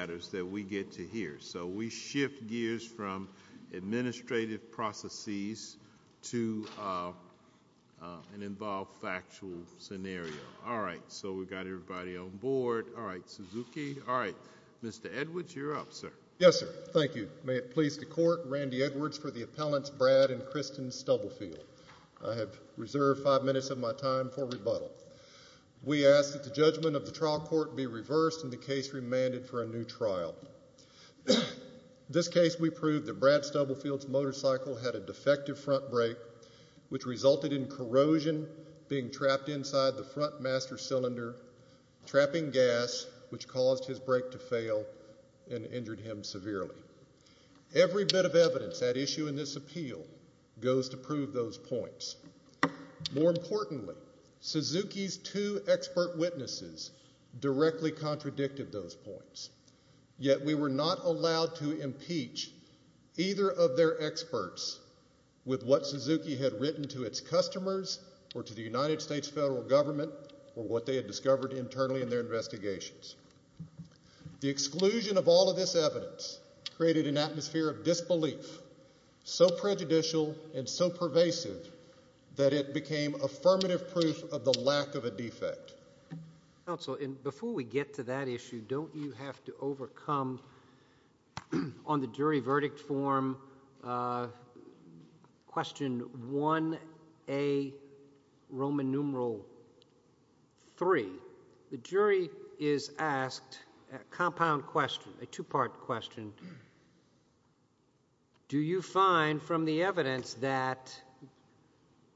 I have reserved five minutes of my time for rebuttal. We ask that the judgment of the trial court be reversed and the case remanded for a new trial. In this case, we proved that Brad Stubblefield's motorcycle had a defective front brake, which resulted in corrosion being trapped inside the front master cylinder, trapping gas, which caused his brake to fail and injured him severely. Every bit of evidence at issue in this appeal goes to prove those points. More importantly, Suzuki's two expert witnesses directly contradicted those points, yet we were not allowed to impeach either of their experts with what Suzuki had written to its customers or to the United States federal government or what they had discovered internally in their investigations. The exclusion of all of this evidence created an atmosphere of disbelief, so prejudicial and so pervasive that it became affirmative proof of the lack of a defect. Counsel, before we get to that issue, don't you have to overcome on the jury verdict form question 1A, Roman numeral 3, the jury is asked a compound question, a two-part question. Do you find from the evidence that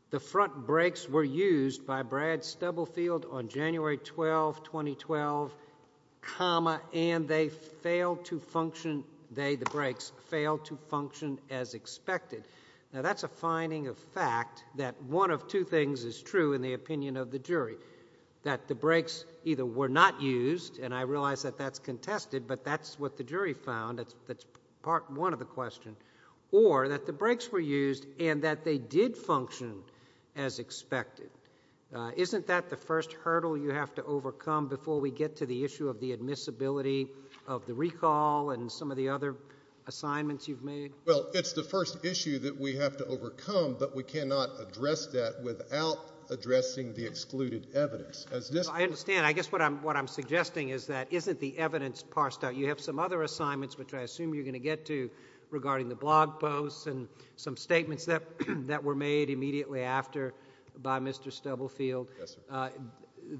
the front brakes were used by Brad Stubblefield on January 12, 2012, and they failed to function, they, the brakes, failed to function as expected? Now, that's a finding of fact that one of two things is true in the opinion of the jury, that the brakes either were not used, and I realize that that's contested, but that's what the jury found, that's part one of the question, or that the brakes were used and that they did function as expected. Isn't that the first hurdle you have to overcome before we get to the issue of the admissibility of the recall and some of the other assignments you've made? Well, it's the first issue that we have to overcome, but we cannot address that without addressing the excluded evidence. I understand. I guess what I'm suggesting is that isn't the evidence parsed out? You have some other assignments, which I assume you're going to get to, regarding the blog posts and some statements that were made immediately after by Mr. Stubblefield. Yes, sir.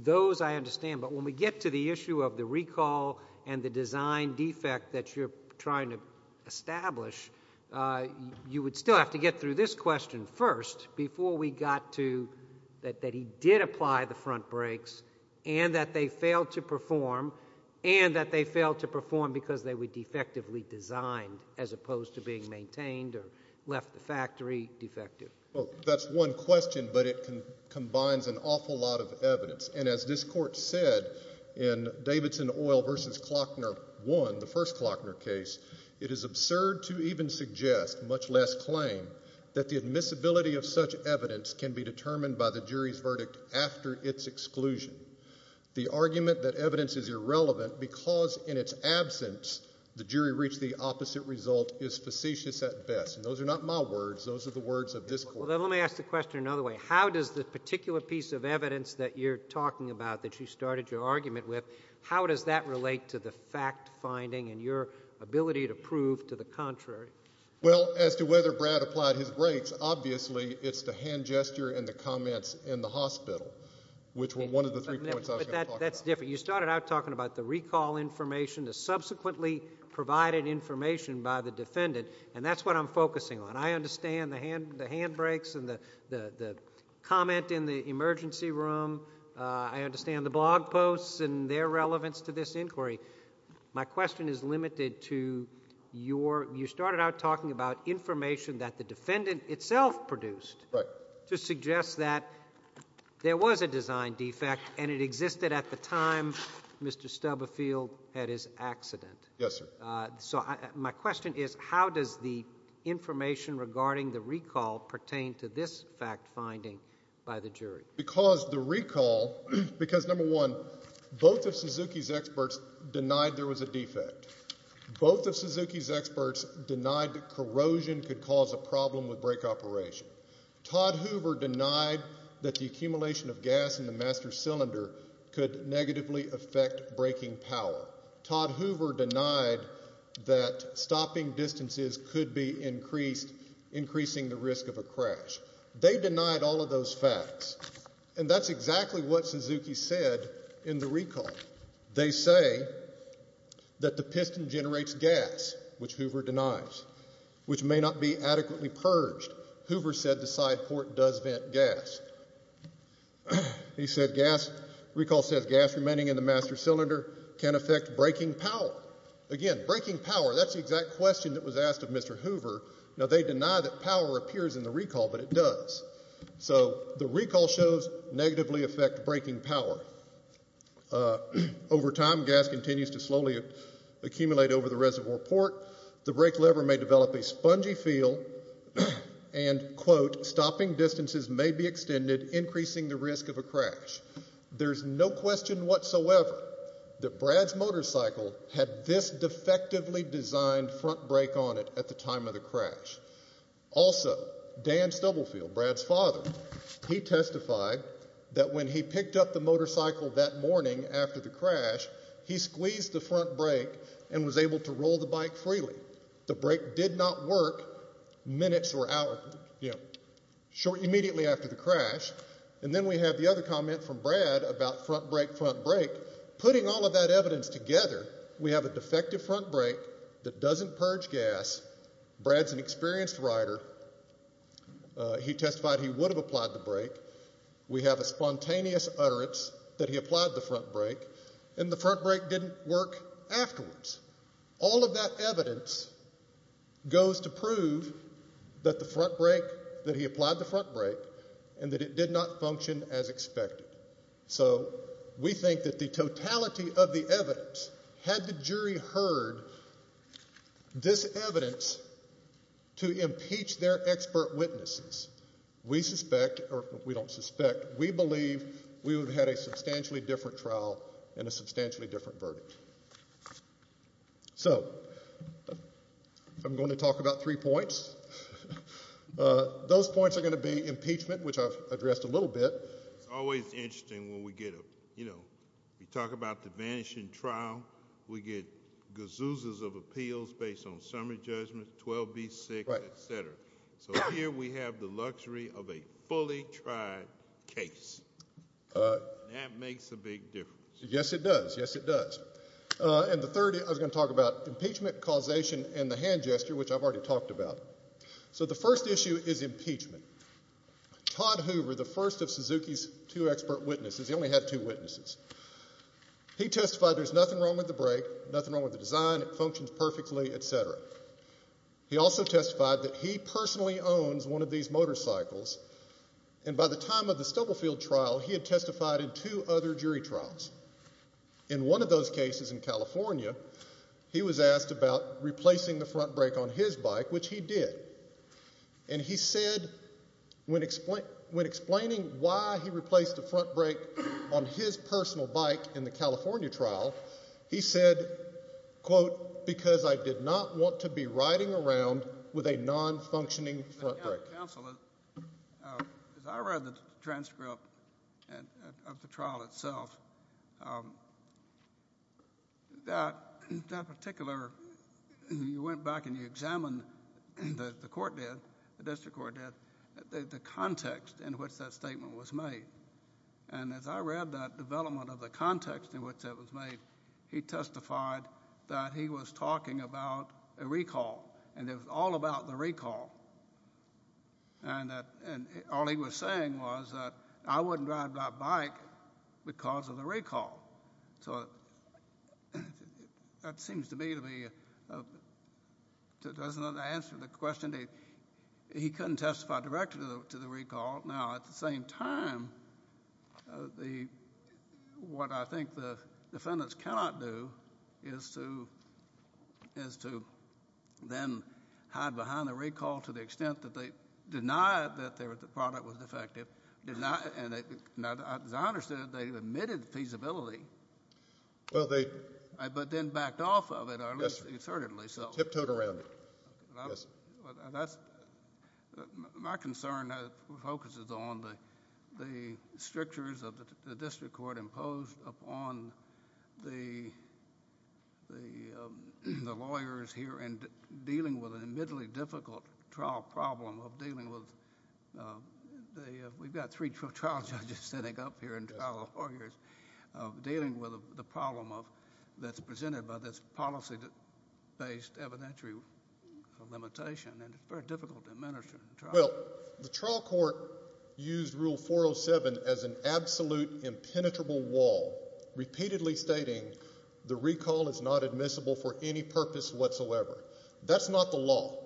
Those, I understand, but when we get to the issue of the recall and the design defect that you're trying to establish, you would still have to get through this question first before we got to that he did apply the front brakes and that they failed to perform and that they failed to perform because they were defectively designed as opposed to being maintained or left the factory defective. That's one question, but it combines an awful lot of evidence. As this court said in Davidson Oil v. Klockner 1, the first Klockner case, it is absurd to even suggest, much less claim, that the admissibility of such evidence can be determined by the jury's verdict after its exclusion. The argument that evidence is irrelevant because, in its absence, the jury reached the opposite result is facetious at best, and those are not my words, those are the words of this court. Well, then let me ask the question another way. How does the particular piece of evidence that you're talking about that you started your argument with, how does that relate to the fact-finding and your ability to prove to the contrary? Well, as to whether Brad applied his brakes, obviously it's the hand gesture and the comments in the hospital, which were one of the three points I was going to talk about. But that's different. You started out talking about the recall information, the subsequently provided information by the defendant, and that's what I'm focusing on. I understand the hand brakes and the comment in the emergency room. I understand the blog posts and their relevance to this inquiry. My question is limited to your, you started out talking about information that the defendant itself produced to suggest that there was a design defect and it existed at the time Mr. Stubbefield had his accident. Yes, sir. So my question is, how does the information regarding the recall pertain to this fact-finding by the jury? Because the recall, because number one, both of Suzuki's experts denied there was a defect. Both of Suzuki's experts denied that corrosion could cause a problem with brake operation. Todd Hoover denied that the accumulation of gas in the master cylinder could negatively affect braking power. Todd Hoover denied that stopping distances could be increasing the risk of a crash. They denied all of those facts. And that's exactly what Suzuki said in the recall. They say that the piston generates gas, which Hoover denies, which may not be adequately purged. Hoover said the side port does vent gas. He said gas, recall says gas remaining in the master cylinder can affect braking power. Again, braking power, that's the exact question that was asked of Mr. Hoover. Now they deny that power appears in the recall, but it does. So the recall shows negatively affect braking power. Over time, gas continues to slowly accumulate over the reservoir port. The brake lever may develop a spongy feel and, quote, stopping distances may be extended, increasing the risk of a crash. There's no question whatsoever that Brad's motorcycle had this defectively designed front brake on it at the time of the crash. Also, Dan Stubblefield, Brad's father, he testified that when he picked up the motorcycle that morning after the crash, he squeezed the front brake and was able to roll the bike freely. The brake did not work minutes or hours, you know, short immediately after the crash. And then we have the other comment from Brad about front brake, front brake, putting all of that evidence together, we have a defective front brake that doesn't purge gas. Brad's an experienced rider. He testified he would have applied the brake. We have a spontaneous utterance that he applied the front brake, and the front brake didn't work afterwards. All of that evidence goes to prove that the front brake, that he applied the front brake and that it did not function as expected. So we think that the totality of the evidence, had the jury heard this evidence to impeach their expert witnesses, we suspect, or we don't suspect, we believe we would have had a substantially different trial and a substantially different verdict. So I'm going to talk about three points. Those points are going to be impeachment, which I've addressed a little bit. It's always interesting when we get a, you know, we talk about the vanishing trial. We get gazoos of appeals based on summary judgments, 12B6, et cetera. So here we have the luxury of a fully tried case. That makes a big difference. Yes it does. Yes it does. And the third, I was going to talk about impeachment, causation, and the hand gesture, which I've already talked about. So the first issue is impeachment. Todd Hoover, the first of Suzuki's two expert witnesses, he only had two witnesses, he testified there's nothing wrong with the brake, nothing wrong with the design, it functions perfectly, et cetera. He also testified that he personally owns one of these motorcycles, and by the time of the Stubblefield trial, he had testified in two other jury trials. In one of those cases in California, he was asked about replacing the front brake on his When explaining why he replaced the front brake on his personal bike in the California trial, he said, quote, because I did not want to be riding around with a non-functioning front brake. Counselor, as I read the transcript of the trial itself, that particular, you went back and you examined, the court did, the district court did, the context in which that statement was made. And as I read that development of the context in which that was made, he testified that he was talking about a recall, and it was all about the recall. And all he was saying was that I wouldn't ride my bike because of the recall. So that seems to me to be, doesn't answer the question that he couldn't testify directly to the recall. Now, at the same time, the, what I think the defendants cannot do is to, is to then hide behind the recall to the extent that they denied that the product was defective, denied, and as I understand it, they omitted feasibility, but then backed off of it, or at least assertedly. Tiptoed around it, yes. My concern focuses on the strictures of the district court imposed upon the lawyers here in dealing with an admittedly difficult trial problem of dealing with the, we've got three actual trial judges sitting up here in trial of lawyers, of dealing with the problem of, that's presented by this policy-based evidentiary limitation, and it's very difficult to administer the trial. Well, the trial court used Rule 407 as an absolute impenetrable wall, repeatedly stating the recall is not admissible for any purpose whatsoever. That's not the law.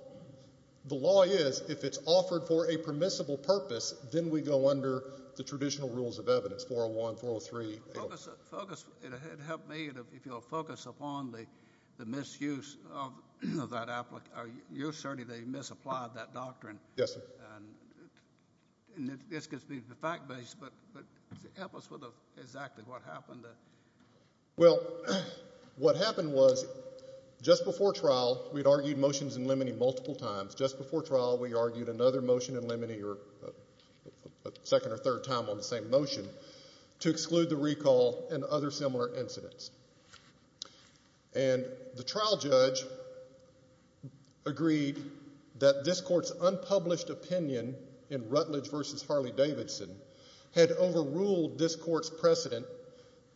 The law is, if it's offered for a permissible purpose, then we go under the traditional rules of evidence, 401, 403. Focus, it'd help me if you'll focus upon the misuse of that, or you assertedly misapplied that doctrine. Yes, sir. And this could be fact-based, but help us with exactly what happened. Well, what happened was, just before trial, we'd argued motions in limine multiple times. Just before trial, we argued another motion in limine, or a second or third time on the same motion, to exclude the recall and other similar incidents. And the trial judge agreed that this court's unpublished opinion in Rutledge v. Harley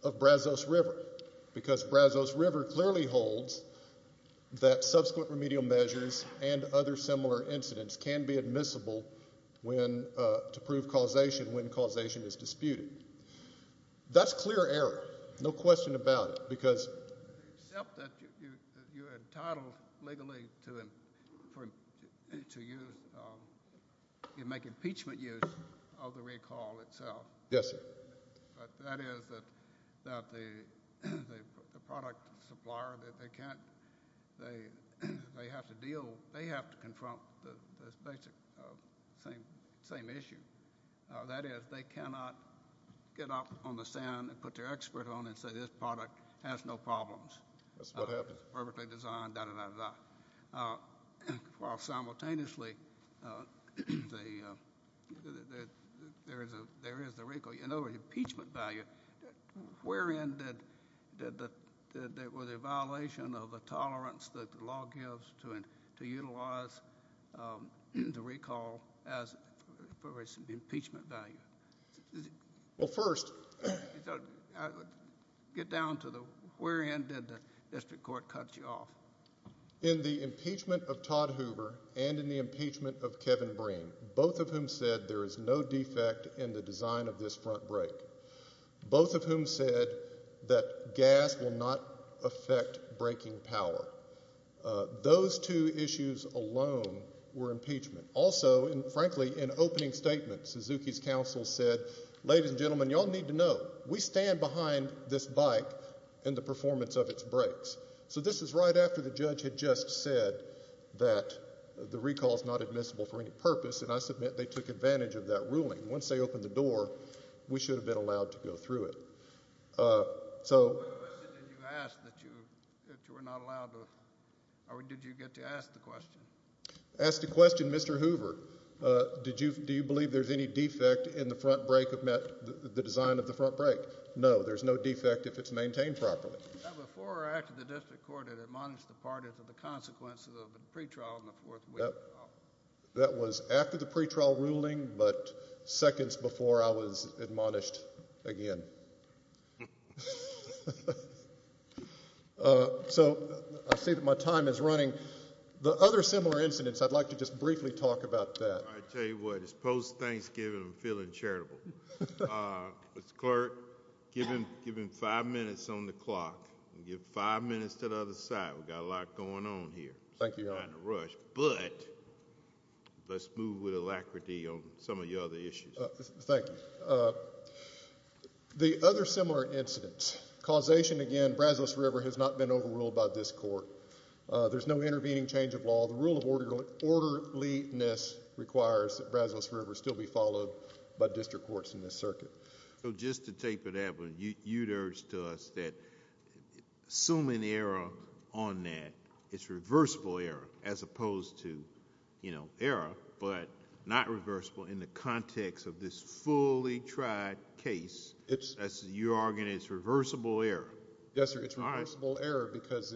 of Brazos River, because Brazos River clearly holds that subsequent remedial measures and other similar incidents can be admissible to prove causation when causation is disputed. That's clear error. No question about it. Except that you're entitled legally to make impeachment use of the recall itself. Yes, sir. But that is that the product supplier, they can't, they have to deal, they have to confront this basic same issue. That is, they cannot get up on the stand and put their expert on and say, this product has no problems. That's what happens. It's perfectly designed, da-da-da-da-da. Well, simultaneously, there is the recall. You know the impeachment value. Wherein did the violation of the tolerance that the law gives to utilize the recall as for its impeachment value? Well, first, I would get down to the wherein did the district court cut you off? In the impeachment of Todd Hoover and in the impeachment of Kevin Breen, both of whom said there is no defect in the design of this front brake, both of whom said that gas will not affect braking power. Those two issues alone were impeachment. Also, and frankly, in opening statements, Suzuki's counsel said, ladies and gentlemen, y'all need to know, we stand behind this bike and the performance of its brakes. So this is right after the judge had just said that the recall is not admissible for any purpose, and I submit they took advantage of that ruling. Once they opened the door, we should have been allowed to go through it. So. What question did you ask that you were not allowed to, or did you get to ask the question? Ask the question, Mr. Hoover. Do you believe there's any defect in the front brake of the design of the front brake? No, there's no defect if it's maintained properly. Now, before or after the district court had admonished the parties of the consequences of the pretrial in the fourth week? That was after the pretrial ruling, but seconds before I was admonished again. So I see that my time is running. The other similar incidents, I'd like to just briefly talk about that. I'll tell you what, it's post-Thanksgiving, I'm feeling charitable. Mr. Clerk, give him five minutes on the clock. Give five minutes to the other side. We've got a lot going on here. Thank you, Your Honor. We're in a rush, but let's move with alacrity on some of your other issues. Thank you. The other similar incidents. Causation again, Brazos River has not been overruled by this court. There's no intervening change of law. The rule of orderliness requires that Brazos River still be followed by district courts in this circuit. Just to taper that, you'd urge to us that assuming error on that, it's reversible error as opposed to error, but not reversible in the context of this fully tried case. You're arguing it's reversible error. Yes, sir. It's reversible error because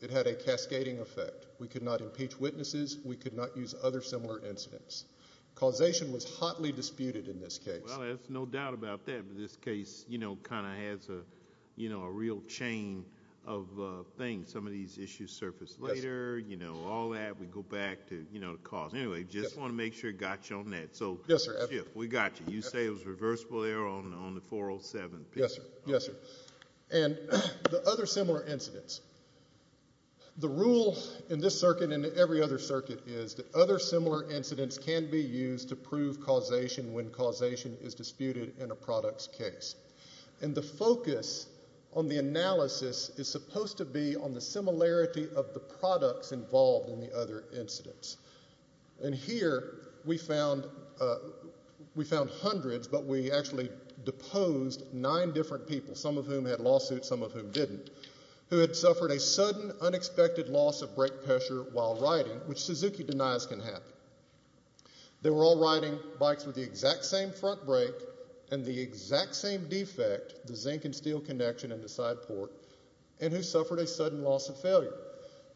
it had a cascading effect. We could not impeach witnesses. We could not use other similar incidents. Causation was hotly disputed in this case. Well, there's no doubt about that, but this case kind of has a real chain of things. Some of these issues surface later, all that. We go back to the cause. Anyway, just want to make sure I got you on that. Yes, sir. We got you. You say it was reversible error on the 407 case? Yes, sir. Yes, sir. And the other similar incidents. The rule in this circuit and every other circuit is that other similar incidents can be used to prove causation when causation is disputed in a product's case. And the focus on the analysis is supposed to be on the similarity of the products involved in the other incidents. And here we found hundreds, but we actually deposed nine different people, some of whom had lawsuits, some of whom didn't, who had suffered a sudden unexpected loss of brake pressure while riding, which Suzuki denies can happen. They were all riding bikes with the exact same front brake and the exact same defect, the zinc and steel connection in the side port, and who suffered a sudden loss of failure.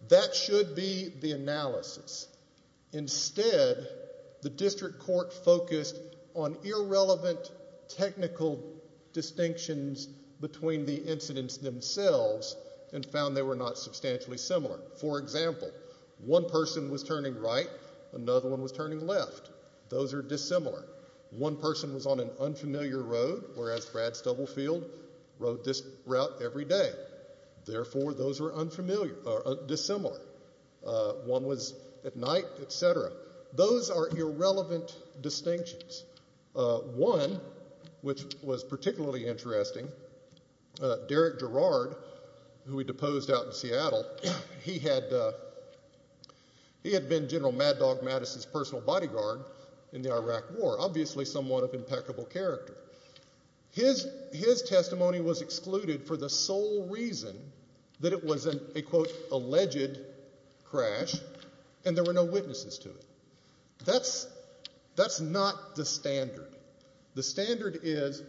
That should be the analysis. Instead, the district court focused on irrelevant technical distinctions between the incidents themselves and found they were not substantially similar. For example, one person was turning right, another one was turning left. Those are dissimilar. One person was on an unfamiliar road, whereas Brad Stubblefield rode this route every day. Therefore, those are dissimilar. One was at night, et cetera. Those are irrelevant distinctions. One, which was particularly interesting, Derek Gerard, who we deposed out in Seattle, he had been General Mad Dog Mattis's personal bodyguard in the Iraq War, obviously someone of impeccable character. His testimony was excluded for the sole reason that it was a, quote, alleged crash and there were no witnesses to it. That's not the standard. The standard is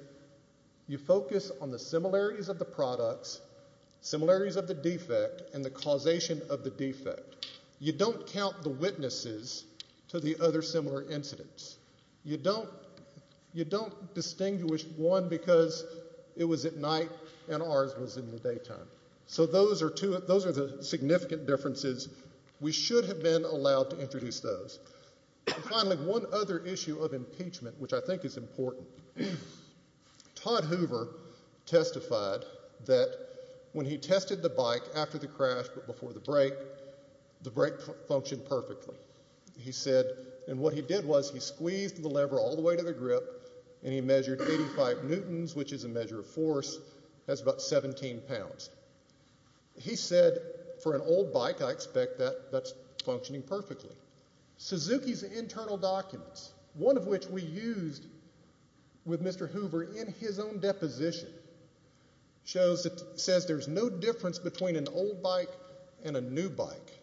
you focus on the similarities of the products, similarities of the defect, and the causation of the defect. You don't count the witnesses to the other similar incidents. You don't distinguish one because it was at night and ours was in the daytime. So those are the significant differences. We should have been allowed to introduce those. Finally, one other issue of impeachment, which I think is important. Todd Hoover testified that when he tested the bike after the crash but before the break, the brake functioned perfectly. He said, and what he did was he squeezed the lever all the way to the grip and he measured 85 newtons, which is a measure of force. That's about 17 pounds. He said, for an old bike, I expect that that's functioning perfectly. Suzuki's internal documents, one of which we used with Mr. Hoover in his own deposition, says there's no difference between an old bike and a new bike.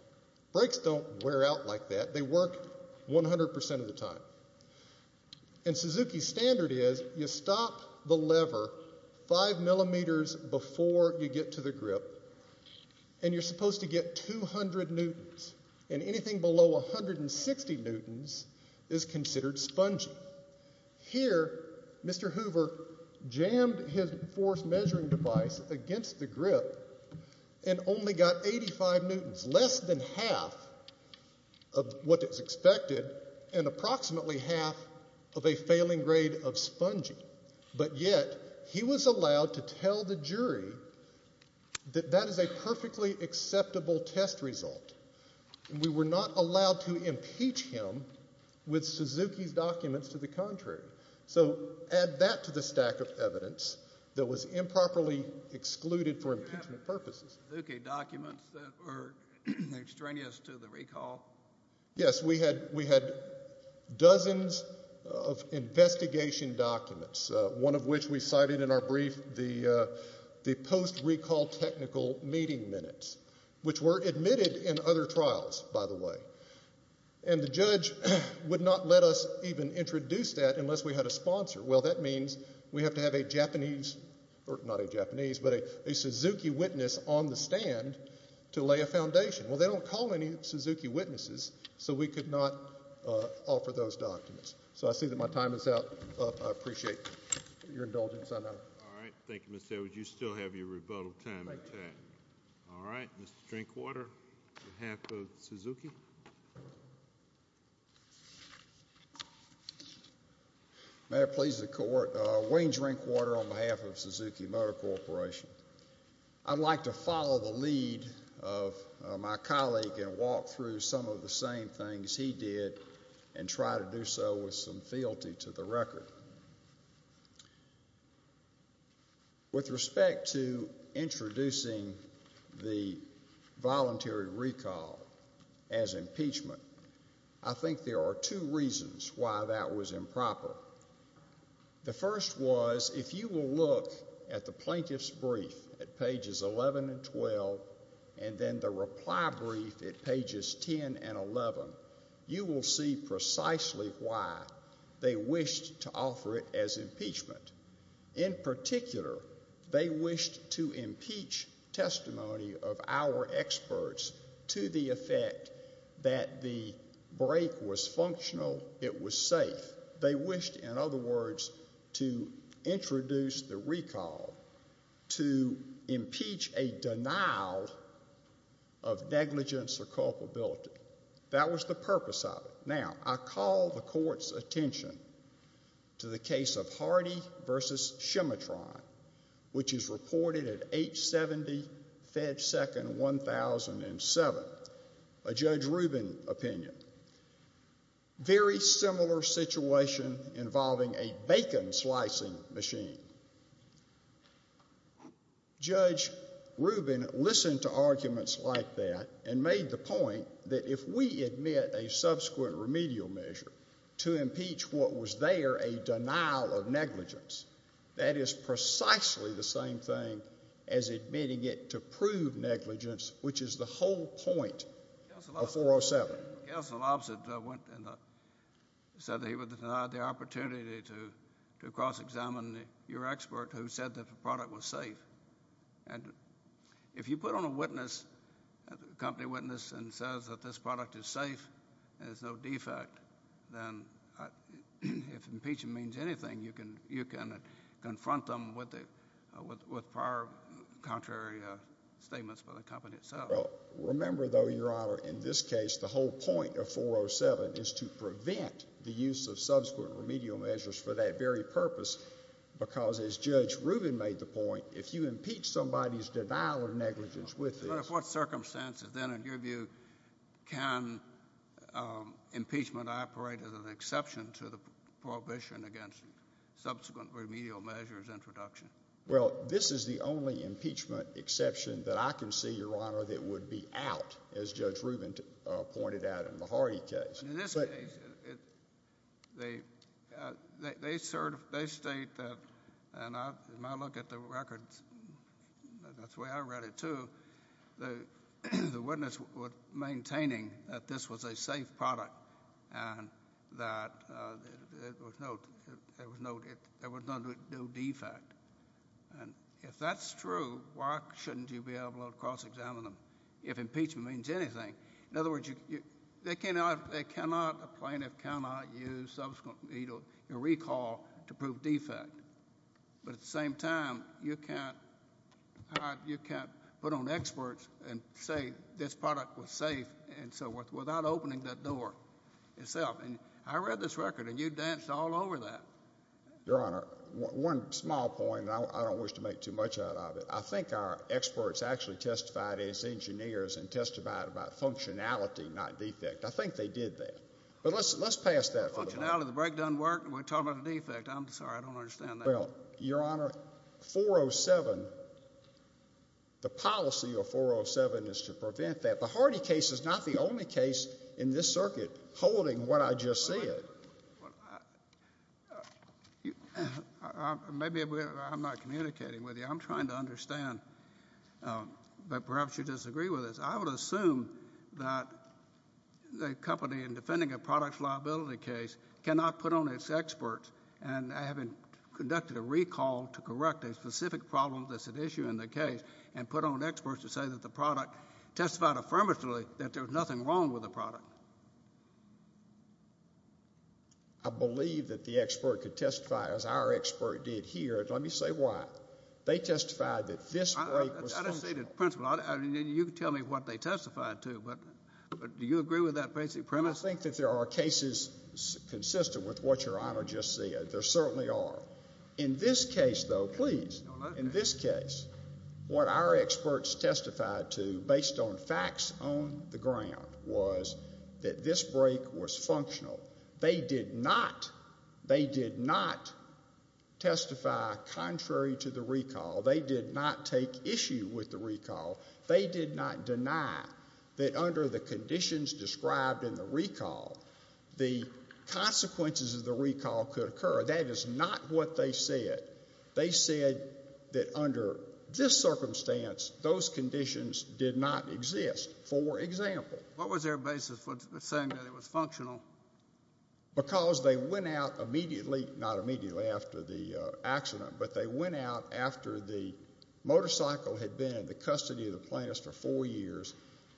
Brakes don't wear out like that. They work 100% of the time. And Suzuki's standard is you stop the lever 5 millimeters before you get to the grip and you're supposed to get 200 newtons, and anything below 160 newtons is considered spongy. Here, Mr. Hoover jammed his force measuring device against the grip and only got 85 newtons, less than half of what is expected and approximately half of a failing grade of spongy. But yet he was allowed to tell the jury that that is a perfectly acceptable test result. We were not allowed to impeach him with Suzuki's documents to the contrary. So add that to the stack of evidence that was improperly excluded for impeachment purposes. Did you have Suzuki documents that were extraneous to the recall? Yes. We had dozens of investigation documents, one of which we cited in our brief, the post-recall technical meeting minutes, which were admitted in other trials, by the way. And the judge would not let us even introduce that unless we had a sponsor. Well, that means we have to have a Suzuki witness on the stand to lay a foundation. Well, they don't call any Suzuki witnesses, so we could not offer those documents. So I see that my time is up. I appreciate your indulgence. All right. Thank you, Mr. Edwards. Mr. Edwards, you still have your rebuttal time intact. Thank you. All right. Mr. Drinkwater on behalf of Suzuki. May it please the Court. Wayne Drinkwater on behalf of Suzuki Motor Corporation. I'd like to follow the lead of my colleague and walk through some of the same things he did and try to do so with some fealty to the record. With respect to introducing the voluntary recall as impeachment, I think there are two reasons why that was improper. The first was if you will look at the plaintiff's brief at pages 11 and 12 and then the reply brief at pages 10 and 11, you will see precisely why they wished to offer it as impeachment. In particular, they wished to impeach testimony of our experts to the effect that the break was functional, it was safe. They wished, in other words, to introduce the recall, to impeach a denial of negligence or culpability. That was the purpose of it. Now, I call the Court's attention to the case of Hardy v. Scimitron, which is reported at 870 FedSecond 1007, a Judge Rubin opinion. Very similar situation involving a bacon slicing machine. Judge Rubin listened to arguments like that and made the point that if we admit a subsequent remedial measure to impeach what was there a denial of negligence, that is precisely the same thing as admitting it to prove negligence, which is the whole point of 407. Counsel opposite said that he would deny the opportunity to cross-examine your expert who said that the product was safe. And if you put on a witness, a company witness, and says that this product is safe and there's no defect, then if impeachment means anything, you can confront them with prior contrary statements by the company itself. Remember, though, Your Honor, in this case, the whole point of 407 is to prevent the use of subsequent remedial measures for that very purpose because, as Judge Rubin made the point, if you impeach somebody's denial of negligence with this... But under what circumstances, then, in your view, can impeachment operate as an exception to the prohibition against subsequent remedial measures introduction? Or that it would be out, as Judge Rubin pointed out in the Hardy case? In this case, they state that, and in my look at the records, and that's the way I read it, too, the witness was maintaining that this was a safe product and that there was no defect. And if that's true, why shouldn't you be able to cross-examine them if impeachment means anything? In other words, they cannot, a plaintiff cannot use subsequent remedial recall to prove defect. But at the same time, you can't put on experts and say this product was safe and so forth without opening that door itself. And I read this record, and you danced all over that. Your Honor, one small point, and I don't wish to make too much out of it. I think our experts actually testified as engineers and testified about functionality, not defect. I think they did that. But let's pass that for the moment. Functionality, the breakdown worked, and we're talking about a defect. I'm sorry, I don't understand that. Well, Your Honor, 407, the policy of 407 is to prevent that. The Hardy case is not the only case in this circuit holding what I just said. Maybe I'm not communicating with you. I'm trying to understand. But perhaps you disagree with this. I would assume that the company in defending a product's liability case cannot put on its experts and having conducted a recall to correct a specific problem that's at issue in the case and put on experts to say that the product testified affirmatively that there was nothing wrong with the product. I believe that the expert could testify as our expert did here, and let me say why. They testified that this break was functional. I don't see the principle. You can tell me what they testified to, but do you agree with that basic premise? I think that there are cases consistent with what Your Honor just said. There certainly are. In this case, though, please, in this case, what our experts testified to based on facts on the ground was that this break was functional. They did not testify contrary to the recall. They did not take issue with the recall. They did not deny that under the conditions described in the recall, the consequences of the recall could occur. That is not what they said. They said that under this circumstance, those conditions did not exist. For example. What was their basis for saying that it was functional? Because they went out immediately, not immediately after the accident, but they went out after the motorcycle had been in the custody of the plaintiff for four years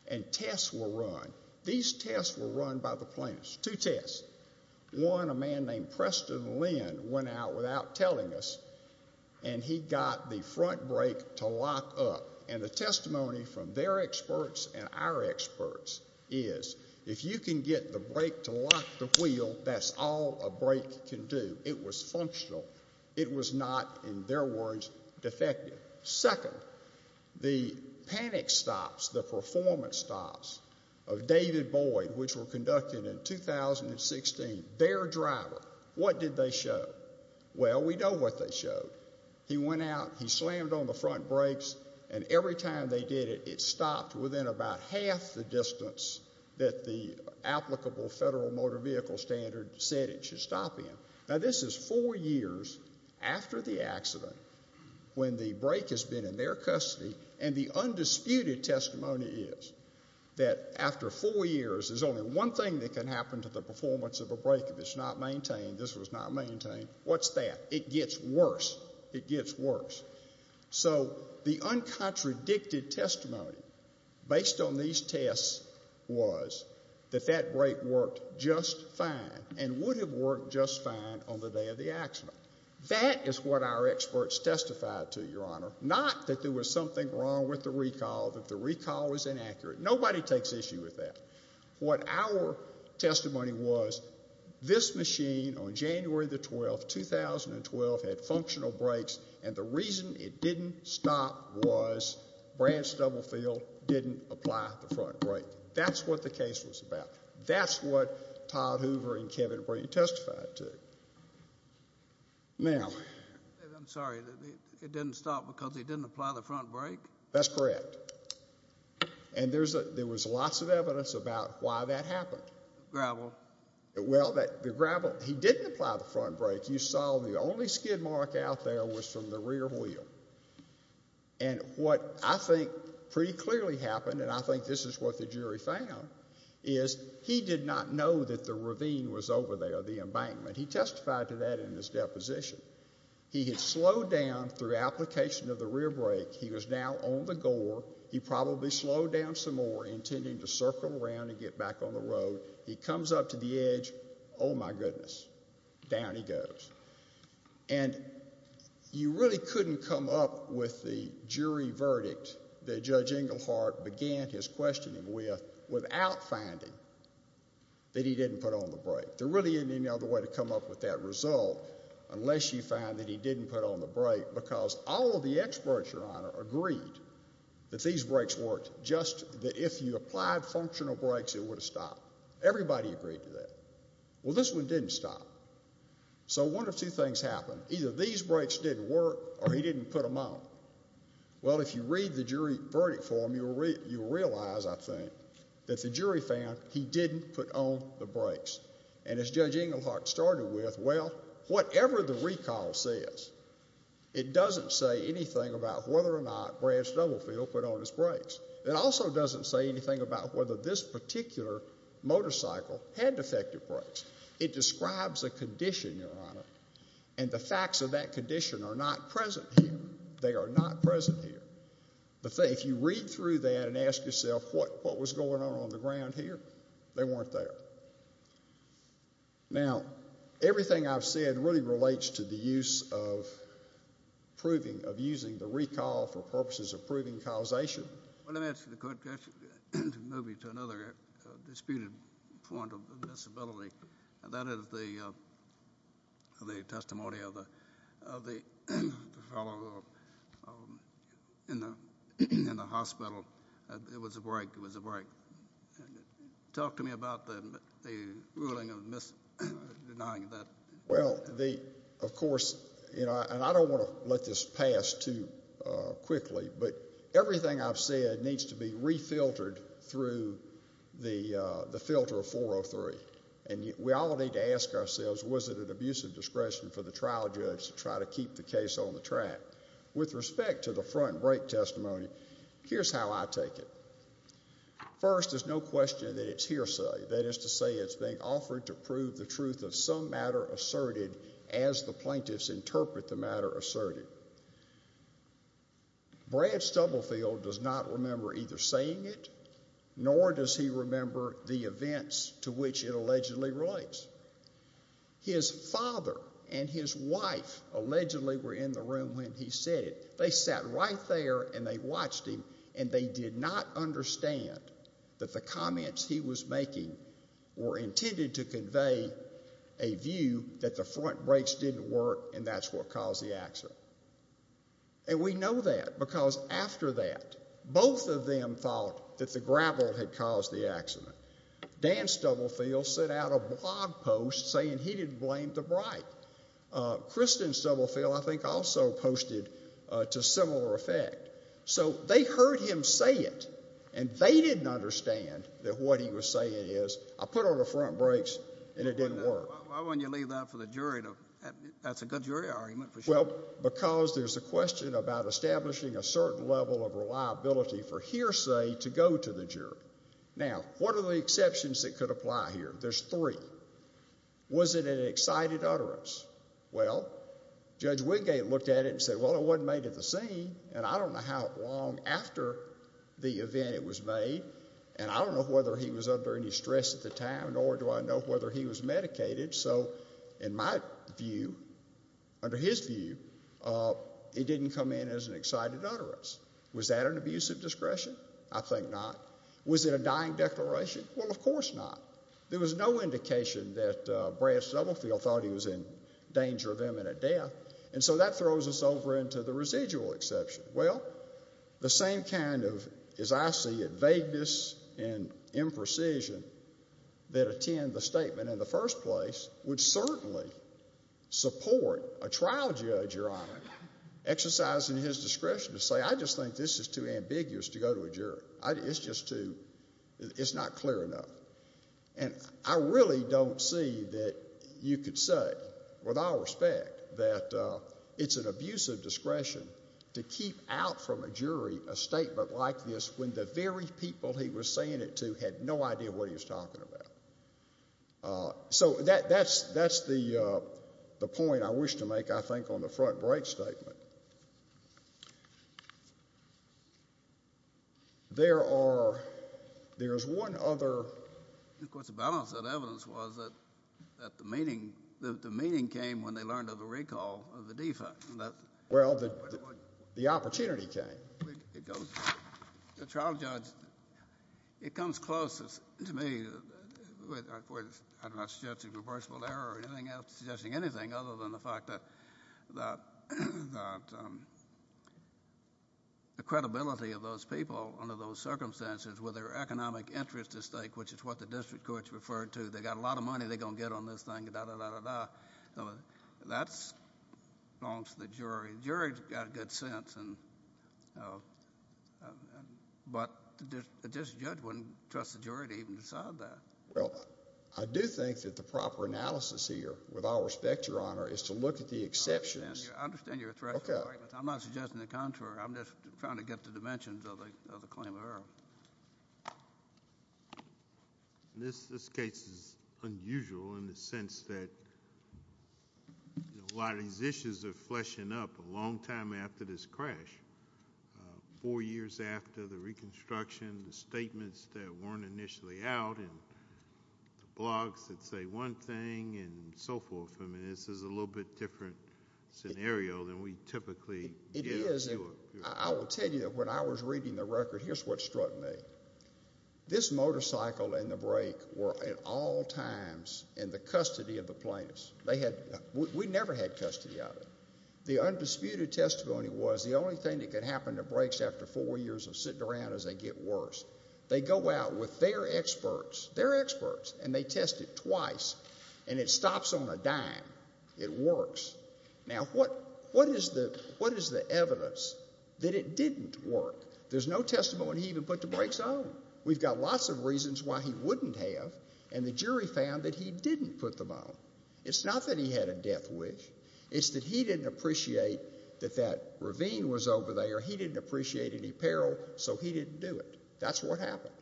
and tests were run. These tests were run by the plaintiff, two tests. One, a man named Preston Lynn went out without telling us, and he got the front brake to lock up, and the testimony from their experts and our experts is, if you can get the brake to lock the wheel, that's all a brake can do. It was functional. It was not, in their words, defective. Second, the panic stops, the performance stops, of David Boyd, which were conducted in 2016, their driver, what did they show? Well, we know what they showed. He went out, he slammed on the front brakes, and every time they did it, it stopped within about half the distance that the applicable federal motor vehicle standard said it should stop in. Now, this is four years after the accident when the brake has been in their custody, and the undisputed testimony is that after four years, there's only one thing that can happen to the performance of a brake if it's not maintained. This was not maintained. What's that? It gets worse. It gets worse. So the uncontradicted testimony based on these tests was that that brake worked just fine and would have worked just fine on the day of the accident. That is what our experts testified to, Your Honor, not that there was something wrong with the recall, that the recall was inaccurate. Nobody takes issue with that. What our testimony was, this machine on January the 12th, 2012, had functional brakes, and the reason it didn't stop was Branch Doublefield didn't apply the front brake. That's what the case was about. That's what Todd Hoover and Kevin Brady testified to. Now... I'm sorry. It didn't stop because he didn't apply the front brake? That's correct. And there was lots of evidence about why that happened. The gravel. Well, the gravel. He didn't apply the front brake. You saw the only skid mark out there was from the rear wheel. And what I think pretty clearly happened, and I think this is what the jury found, is he did not know that the ravine was over there, the embankment. He testified to that in his deposition. He had slowed down through application of the rear brake. He was now on the gore. He probably slowed down some more, intending to circle around and get back on the road. He comes up to the edge. Oh, my goodness. Down he goes. And you really couldn't come up with the jury verdict that Judge Englehart began his questioning with without finding that he didn't put on the brake. There really isn't any other way to come up with that result unless you find that he didn't put on the brake because all of the experts, Your Honor, agreed that these brakes worked, just that if you applied functional brakes, it would have stopped. Everybody agreed to that. Well, this one didn't stop. So one of two things happened. Either these brakes didn't work or he didn't put them on. Well, if you read the jury verdict form, you'll realize, I think, that the jury found he didn't put on the brakes. And as Judge Englehart started with, well, whatever the recall says, it doesn't say anything about whether or not Branch Doublefield put on his brakes. It also doesn't say anything about whether this particular motorcycle had defective brakes. It describes a condition, Your Honor, and the facts of that condition are not present here. They are not present here. If you read through that and ask yourself what was going on on the ground here, they weren't there. Now, everything I've said really relates to the use of proving, of using the recall for purposes of proving causation. Well, let me ask you to move you to another disputed point of disability, and that is the testimony of the fellow in the hospital. It was a brake. It was a brake. Talk to me about the ruling of denying that. Well, of course, and I don't want to let this pass too quickly, but everything I've said needs to be refiltered through the filter of 403. And we all need to ask ourselves, was it an abuse of discretion for the trial judge to try to keep the case on the track? With respect to the front brake testimony, here's how I take it. First, there's no question that it's hearsay. That is to say it's being offered to prove the truth of some matter asserted as the plaintiffs interpret the matter asserted. Brad Stubblefield does not remember either saying it, nor does he remember the events to which it allegedly relates. His father and his wife allegedly were in the room when he said it. They sat right there and they watched him, and they did not understand that the comments he was making were intended to convey a view that the front brakes didn't work and that's what caused the accident. And we know that because after that, both of them thought that the gravel had caused the accident. Dan Stubblefield sent out a blog post saying he didn't blame the brake. Kristen Stubblefield, I think, also posted to similar effect. So they heard him say it, and they didn't understand that what he was saying is, I put on the front brakes and it didn't work. Why wouldn't you leave that for the jury? That's a good jury argument for sure. Well, because there's a question about establishing a certain level of reliability for hearsay to go to the jury. Now, what are the exceptions that could apply here? There's three. Was it an excited utterance? Well, Judge Wingate looked at it and said, well, it wasn't made at the scene, and I don't know how long after the event it was made, and I don't know whether he was under any stress at the time, nor do I know whether he was medicated. So in my view, under his view, it didn't come in as an excited utterance. Was that an abuse of discretion? I think not. Was it a dying declaration? Well, of course not. There was no indication that Brad Stubblefield thought he was in danger of imminent death. And so that throws us over into the residual exception. Well, the same kind of, as I see it, vagueness and imprecision that attend the statement in the first place would certainly support a trial judge, Your Honor, exercising his discretion to say, I just think this is too ambiguous to go to a jury. It's just too ñ it's not clear enough. And I really don't see that you could say, with all respect, that it's an abuse of discretion to keep out from a jury a statement like this when the very people he was saying it to had no idea what he was talking about. So that's the point I wish to make, I think, on the front break statement. There are ñ there's one other ñ Of course, the balance of evidence was that the meaning came when they learned of the recall of the defect. Well, the opportunity came. The trial judge, it comes closest to me with, of course, I'm not suggesting reversible error or anything else, I'm not suggesting anything other than the fact that the credibility of those people under those circumstances with their economic interest at stake, which is what the district courts referred to, they got a lot of money they're going to get on this thing, da-da-da-da-da. That belongs to the jury. The jury's got a good sense, but the district judge wouldn't trust the jury to even decide that. Well, I do think that the proper analysis here, with all respect, Your Honor, is to look at the exceptions. I understand your threat. Okay. I'm not suggesting the contrary. I'm just trying to get the dimensions of the claim of error. This case is unusual in the sense that a lot of these issues are fleshing up a long time after this crash, four years after the reconstruction, the statements that weren't initially out, and the blogs that say one thing and so forth. I mean, this is a little bit different scenario than we typically get. It is. I will tell you, when I was reading the record, here's what struck me. This motorcycle and the brake were at all times in the custody of the plaintiffs. We never had custody of it. The undisputed testimony was the only thing that could happen to brakes after four years of sitting around is they get worse. They go out with their experts, their experts, and they test it twice, and it stops on a dime. It works. Now, what is the evidence that it didn't work? There's no testimony when he even put the brakes on. We've got lots of reasons why he wouldn't have, and the jury found that he didn't put them on. It's not that he had a death wish. It's that he didn't appreciate that that ravine was over there. He didn't appreciate any peril, so he didn't do it. That's what happened.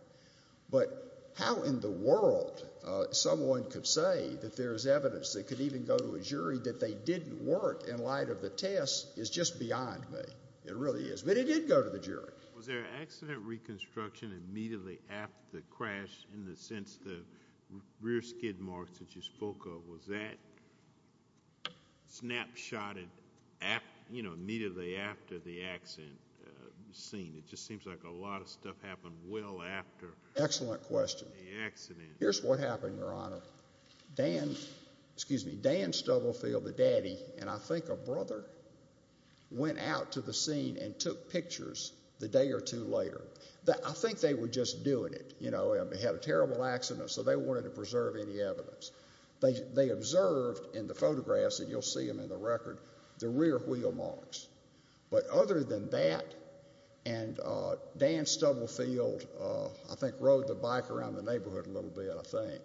But how in the world someone could say that there's evidence that could even go to a jury that they didn't work in light of the test is just beyond me. It really is. But it did go to the jury. Was there an accident reconstruction immediately after the crash in the sense the rear skid marks that you spoke of? Was that snapshotted immediately after the accident scene? It just seems like a lot of stuff happened well after the accident. Excellent question. Here's what happened, Your Honor. Dan Stubblefield, the daddy, and I think a brother, went out to the scene and took pictures the day or two later. I think they were just doing it. They had a terrible accident, so they wanted to preserve any evidence. They observed in the photographs, and you'll see them in the record, the rear wheel marks. But other than that, and Dan Stubblefield, I think, rode the bike around the neighborhood a little bit, I think.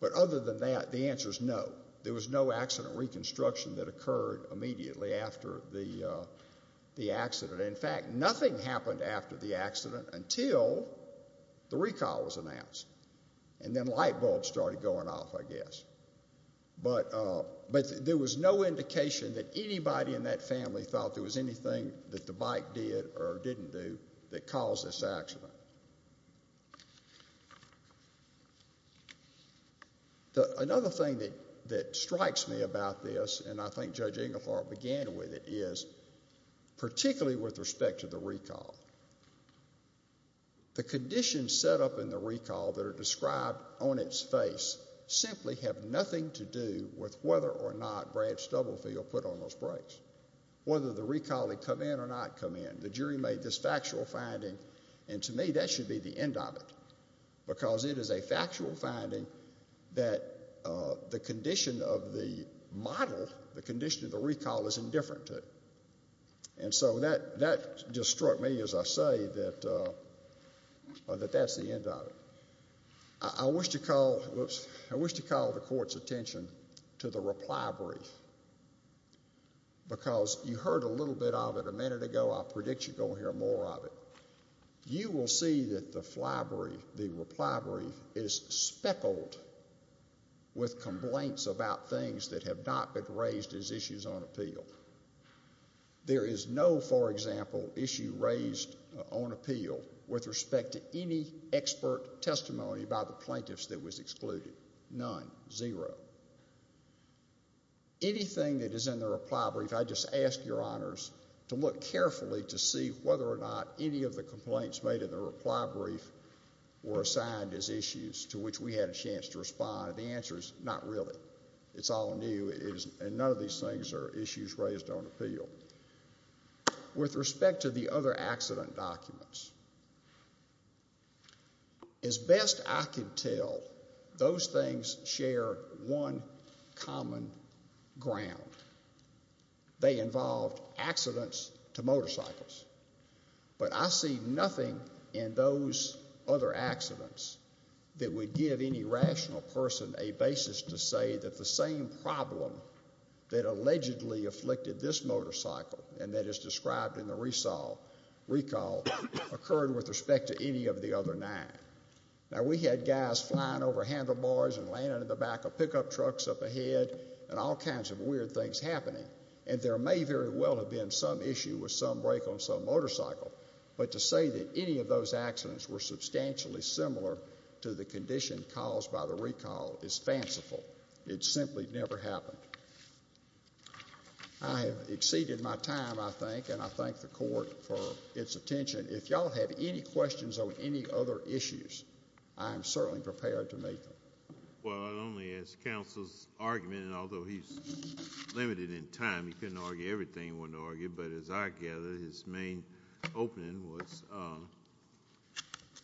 But other than that, the answer is no. There was no accident reconstruction that occurred immediately after the accident. In fact, nothing happened after the accident until the recall was announced, and then light bulbs started going off, I guess. But there was no indication that anybody in that family thought there was anything that the bike did or didn't do that caused this accident. Another thing that strikes me about this, and I think Judge Inglethorpe began with it, is particularly with respect to the recall, the conditions set up in the recall that are described on its face simply have nothing to do with whether or not Brad Stubblefield put on those brakes, whether the recall had come in or not come in. The jury made this factual finding, and to me, that should be the end of it, because it is a factual finding that the condition of the model, the condition of the recall, is indifferent to. And so that just struck me, as I say, that that's the end of it. I wish to call the court's attention to the replibrary, because you heard a little bit of it a minute ago. I predict you're going to hear more of it. You will see that the replibrary is speckled with complaints about things that have not been raised as issues on appeal. There is no, for example, issue raised on appeal with respect to any expert testimony by the plaintiffs that was excluded. None. Zero. Anything that is in the replibrary, I just ask your honors to look carefully to see whether or not any of the complaints made in the replibrary were assigned as issues to which we had a chance to respond, and the answer is not really. It's all new, and none of these things are issues raised on appeal. With respect to the other accident documents, as best I can tell, those things share one common ground. They involved accidents to motorcycles, but I see nothing in those other accidents that would give any rational person a basis to say that the same problem that allegedly afflicted this motorcycle, and that is described in the recall, occurred with respect to any of the other nine. Now, we had guys flying over handlebars and landing in the back of pickup trucks up ahead and all kinds of weird things happening, and there may very well have been some issue with some brake on some motorcycle, but to say that any of those accidents were substantially similar to the condition caused by the recall is fanciful. It simply never happened. I have exceeded my time, I think, and I thank the court for its attention. If y'all have any questions on any other issues, I am certainly prepared to make them. Well, not only is counsel's argument, and although he's limited in time, he couldn't argue everything he wanted to argue, but as I gather, his main opening was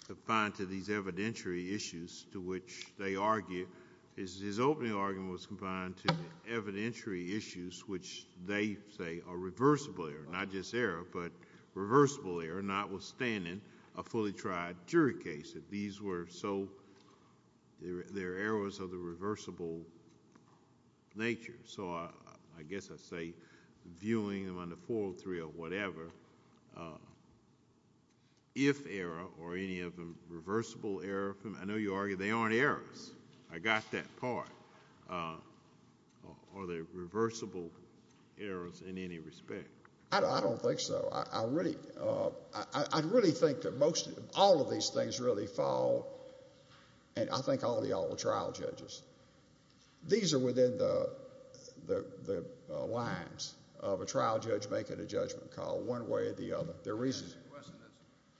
confined to these evidentiary issues to which they argue. His opening argument was confined to evidentiary issues which they say are reversible error, not just error, but reversible error notwithstanding a fully tried jury case. These were so they're errors of the reversible nature. So I guess I say viewing them under 403 or whatever, if error or any of them reversible error, I know you argue they aren't errors. I got that part. Are they reversible errors in any respect? I don't think so. I really think that all of these things really fall, and I thank all of y'all, the trial judges. These are within the lines of a trial judge making a judgment call one way or the other. There are reasons. I have a question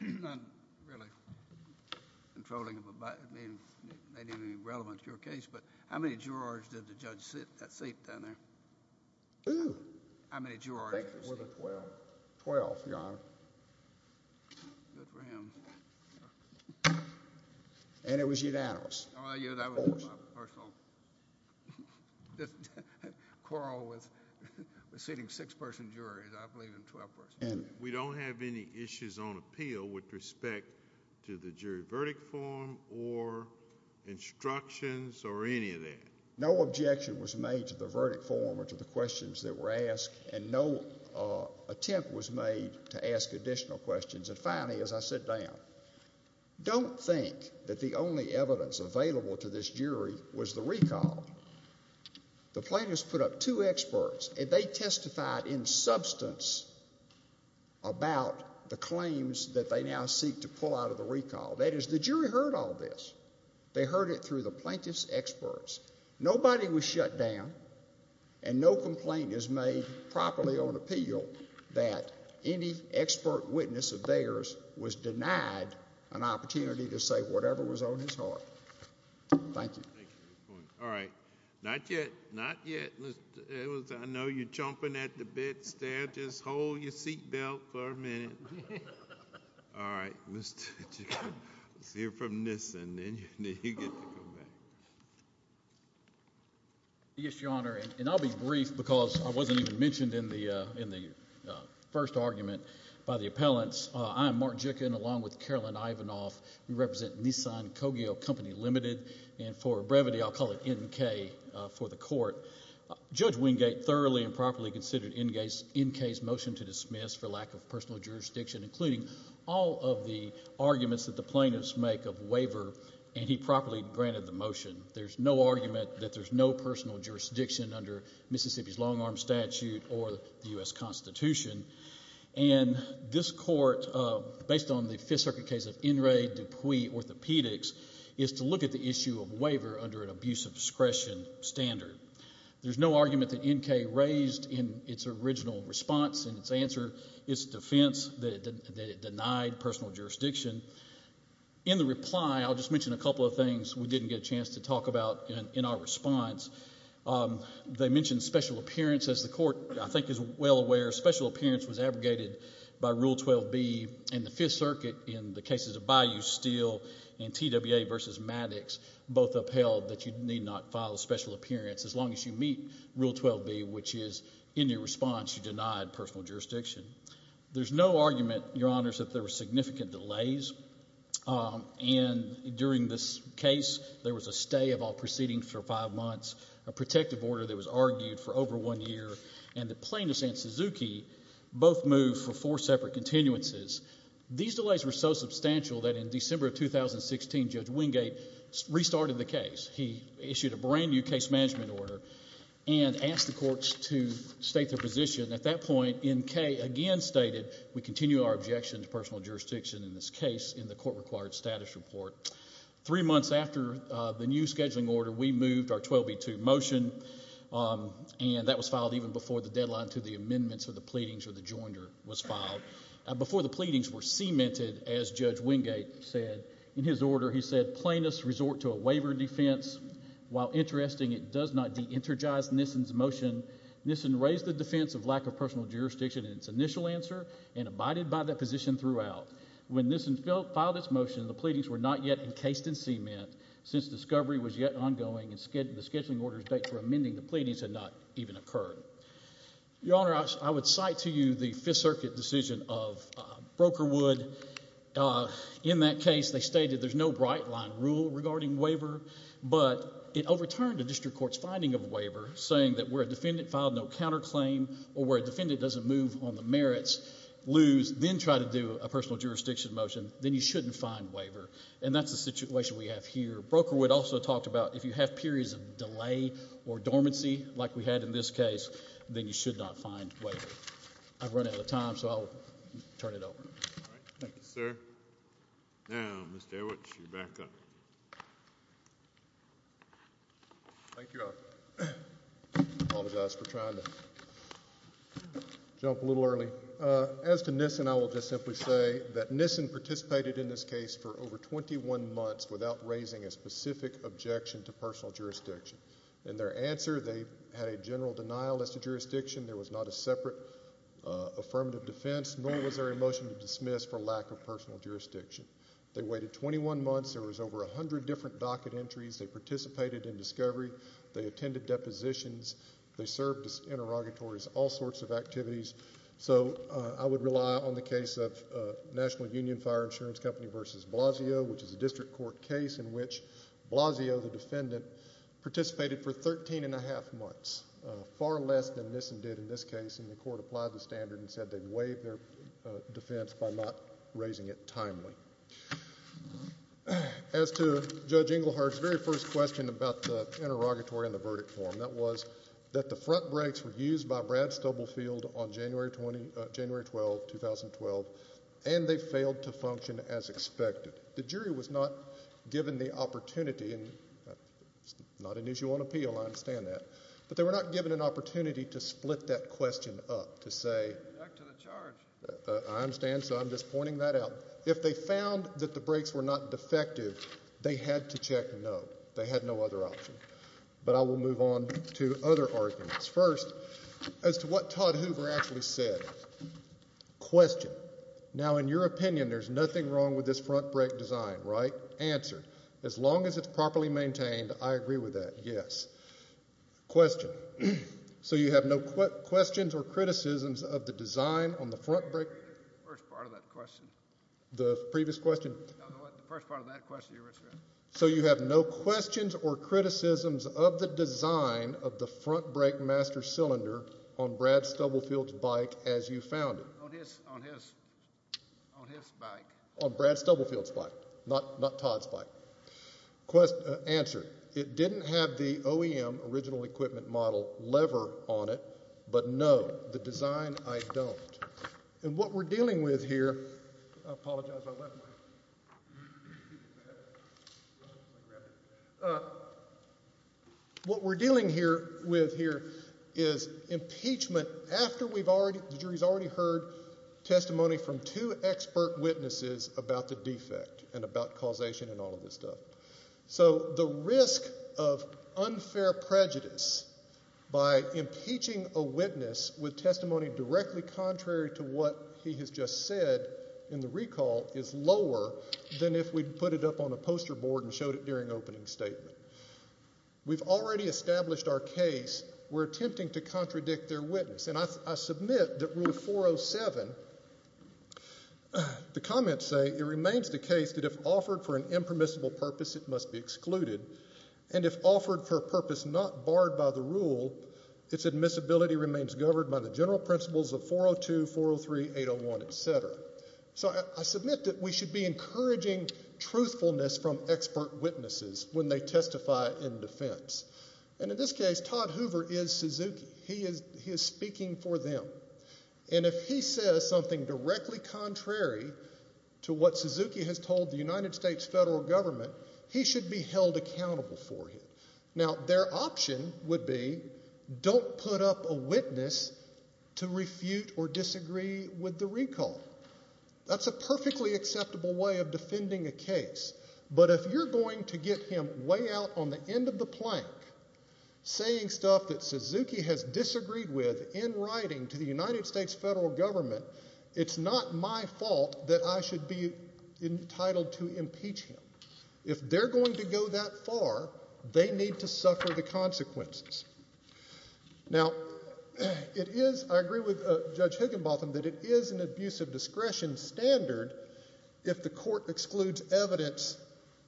that's not really controlling, maybe not even relevant to your case, but how many jurors did the judge seat down there? Who? How many jurors did he seat? I think it was a 12. Twelve, Your Honor. Good for him. And it was unanimous. Oh, yeah, that was my personal quarrel with seating six-person juries. I believe in 12-person juries. We don't have any issues on appeal with respect to the jury verdict form or instructions or any of that? No objection was made to the verdict form or to the questions that were asked, and no attempt was made to ask additional questions. And finally, as I sit down, don't think that the only evidence available to this jury was the recall. The plaintiffs put up two experts, and they testified in substance about the claims that they now seek to pull out of the recall. That is, the jury heard all this. They heard it through the plaintiff's experts. Nobody was shut down, and no complaint is made properly on appeal that any expert witness of theirs was denied an opportunity to say whatever was on his heart. Thank you. Thank you for your point. All right. Not yet, not yet. I know you're chomping at the bits there. Just hold your seat belt for a minute. All right. Let's hear from this, and then you get to come back. Yes, Your Honor, and I'll be brief because I wasn't even mentioned in the first argument by the appellants. I am Mark Jicken, along with Carolyn Ivanoff. We represent Nissan Coggio Company Limited, and for brevity, I'll call it NK for the court. Judge Wingate thoroughly and properly considered NK's motion to dismiss for lack of personal jurisdiction, including all of the arguments that the plaintiffs make of waiver, and he properly granted the motion. There's no argument that there's no personal jurisdiction under Mississippi's long-arm statute or the U.S. Constitution. And this court, based on the Fifth Circuit case of In re Dupuy Orthopedics, is to look at the issue of waiver under an abuse of discretion standard. There's no argument that NK raised in its original response and its answer, its defense, that it denied personal jurisdiction. In the reply, I'll just mention a couple of things we didn't get a chance to talk about in our response. They mentioned special appearance. As the court, I think, is well aware, special appearance was abrogated by Rule 12b, and the Fifth Circuit, in the cases of Bayou Steel and TWA v. Maddox, both upheld that you need not file a special appearance as long as you meet Rule 12b, which is in your response you denied personal jurisdiction. There's no argument, Your Honors, that there were significant delays, and during this case there was a stay of all proceedings for five months, a protective order that was argued for over one year, and that Plaintiffs and Suzuki both moved for four separate continuances. These delays were so substantial that in December of 2016, Judge Wingate restarted the case. He issued a brand-new case management order and asked the courts to state their position. At that point, N.K. again stated, We continue our objection to personal jurisdiction in this case in the court-required status report. Three months after the new scheduling order, we moved our 12b-2 motion, and that was filed even before the deadline to the amendments or the pleadings or the joinder was filed. Before the pleadings were cemented, as Judge Wingate said in his order, he said, Plaintiffs resort to a waiver defense. While interesting, it does not de-energize Nissen's motion. Nissen raised the defense of lack of personal jurisdiction in its initial answer and abided by that position throughout. When Nissen filed its motion, the pleadings were not yet encased in cement. Since discovery was yet ongoing and the scheduling order's date for amending the pleadings had not even occurred. Your Honor, I would cite to you the Fifth Circuit decision of Brokerwood. In that case, they stated there's no bright-line rule regarding waiver, but it overturned the district court's finding of waiver, saying that where a defendant filed no counterclaim or where a defendant doesn't move on the merits, lose, then try to do a personal jurisdiction motion, then you shouldn't find waiver, and that's the situation we have here. Brokerwood also talked about if you have periods of delay or dormancy like we had in this case, then you should not find waiver. I've run out of time, so I'll turn it over. Thank you, sir. Now, Mr. Edwards, you're back up. Thank you, Your Honor. I apologize for trying to jump a little early. As to Nissen, I will just simply say that Nissen participated in this case for over 21 months without raising a specific objection to personal jurisdiction. In their answer, they had a general denial as to jurisdiction. There was not a separate affirmative defense, nor was there a motion to dismiss for lack of personal jurisdiction. They waited 21 months. There was over 100 different docket entries. They participated in discovery. They attended depositions. They served as interrogatories, all sorts of activities. So I would rely on the case of National Union Fire Insurance Company v. Blasio, which is a district court case in which Blasio, the defendant, participated for 13 1⁄2 months, far less than Nissen did in this case. And the court applied the standard and said they'd waive their defense by not raising it timely. As to Judge Engelhardt's very first question about the interrogatory and the verdict form, that was that the front brakes were used by Brad Stubblefield on January 12, 2012, and they failed to function as expected. The jury was not given the opportunity, and it's not an issue on appeal. I understand that. But they were not given an opportunity to split that question up to say. Back to the charge. I understand, so I'm just pointing that out. If they found that the brakes were not defective, they had to check no. They had no other option. But I will move on to other arguments. First, as to what Todd Hoover actually said, question. Now, in your opinion, there's nothing wrong with this front brake design, right? Answer. As long as it's properly maintained, I agree with that, yes. Question. So you have no questions or criticisms of the design on the front brake? The first part of that question. The previous question? No, the first part of that question. So you have no questions or criticisms of the design of the front brake master cylinder on Brad Stubblefield's bike as you found it? On his bike. On Brad Stubblefield's bike, not Todd's bike. Answer. It didn't have the OEM original equipment model lever on it, but no, the design, I don't. And what we're dealing with here, I apologize, I left mine. What we're dealing with here is impeachment after the jury's already heard testimony from two expert witnesses about the defect and about causation and all of this stuff. So the risk of unfair prejudice by impeaching a witness with testimony directly contrary to what he has just said in the recall is lower than if we'd put it up on a poster board and showed it during opening statement. We've already established our case. We're attempting to contradict their witness. And I submit that Rule 407, the comments say, it remains the case that if offered for an impermissible purpose, it must be excluded. And if offered for a purpose not barred by the rule, its admissibility remains governed by the general principles of 402, 403, 801, et cetera. So I submit that we should be encouraging truthfulness from expert witnesses when they testify in defense. And in this case, Todd Hoover is Suzuki. He is speaking for them. And if he says something directly contrary to what Suzuki has told the United States federal government, he should be held accountable for it. Now, their option would be don't put up a witness to refute or disagree with the recall. That's a perfectly acceptable way of defending a case. But if you're going to get him way out on the end of the plank saying stuff that Suzuki has disagreed with in writing to the United States federal government, it's not my fault that I should be entitled to impeach him. If they're going to go that far, they need to suffer the consequences. Now, I agree with Judge Higginbotham that it is an abuse of discretion standard if the court excludes evidence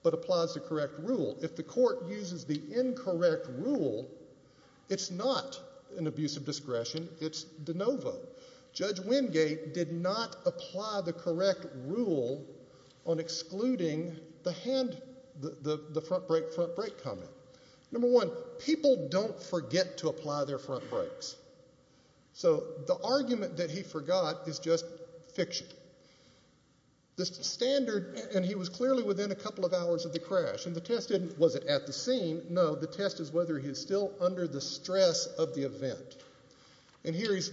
but applies the correct rule. If the court uses the incorrect rule, it's not an abuse of discretion. It's de novo. Judge Wingate did not apply the correct rule on excluding the hand, the front brake, front brake comment. Number one, people don't forget to apply their front brakes. So the argument that he forgot is just fiction. The standard, and he was clearly within a couple of hours of the crash, and the test wasn't at the scene. No, the test is whether he's still under the stress of the event. And here he's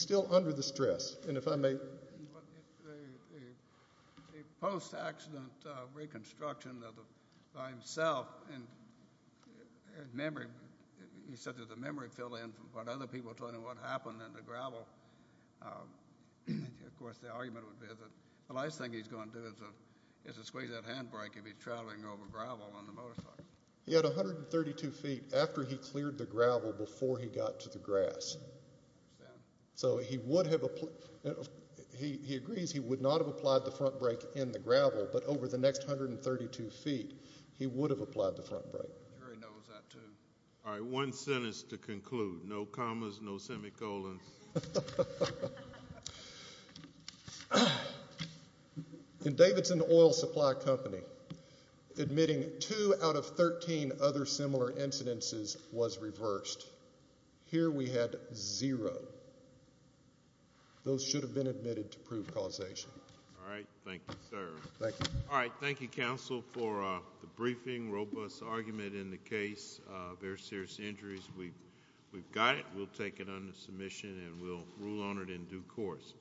still under the stress. And if I may. A post-accident reconstruction by himself, he said that the memory filled in from what other people told him what happened in the gravel. Of course, the argument would be that the last thing he's going to do is to squeeze that hand brake if he's traveling over gravel on the motorcycle. He had 132 feet after he cleared the gravel before he got to the grass. So he agrees he would not have applied the front brake in the gravel, but over the next 132 feet he would have applied the front brake. The jury knows that too. All right, one sentence to conclude. No commas, no semicolons. In Davidson Oil Supply Company, admitting two out of 13 other similar incidences was reversed. Here we had zero. Those should have been admitted to prove causation. All right. Thank you, sir. Thank you. All right. Thank you, counsel, for the briefing, robust argument in the case, very serious injuries. We've got it. We'll take it under submission and we'll rule on it in due course.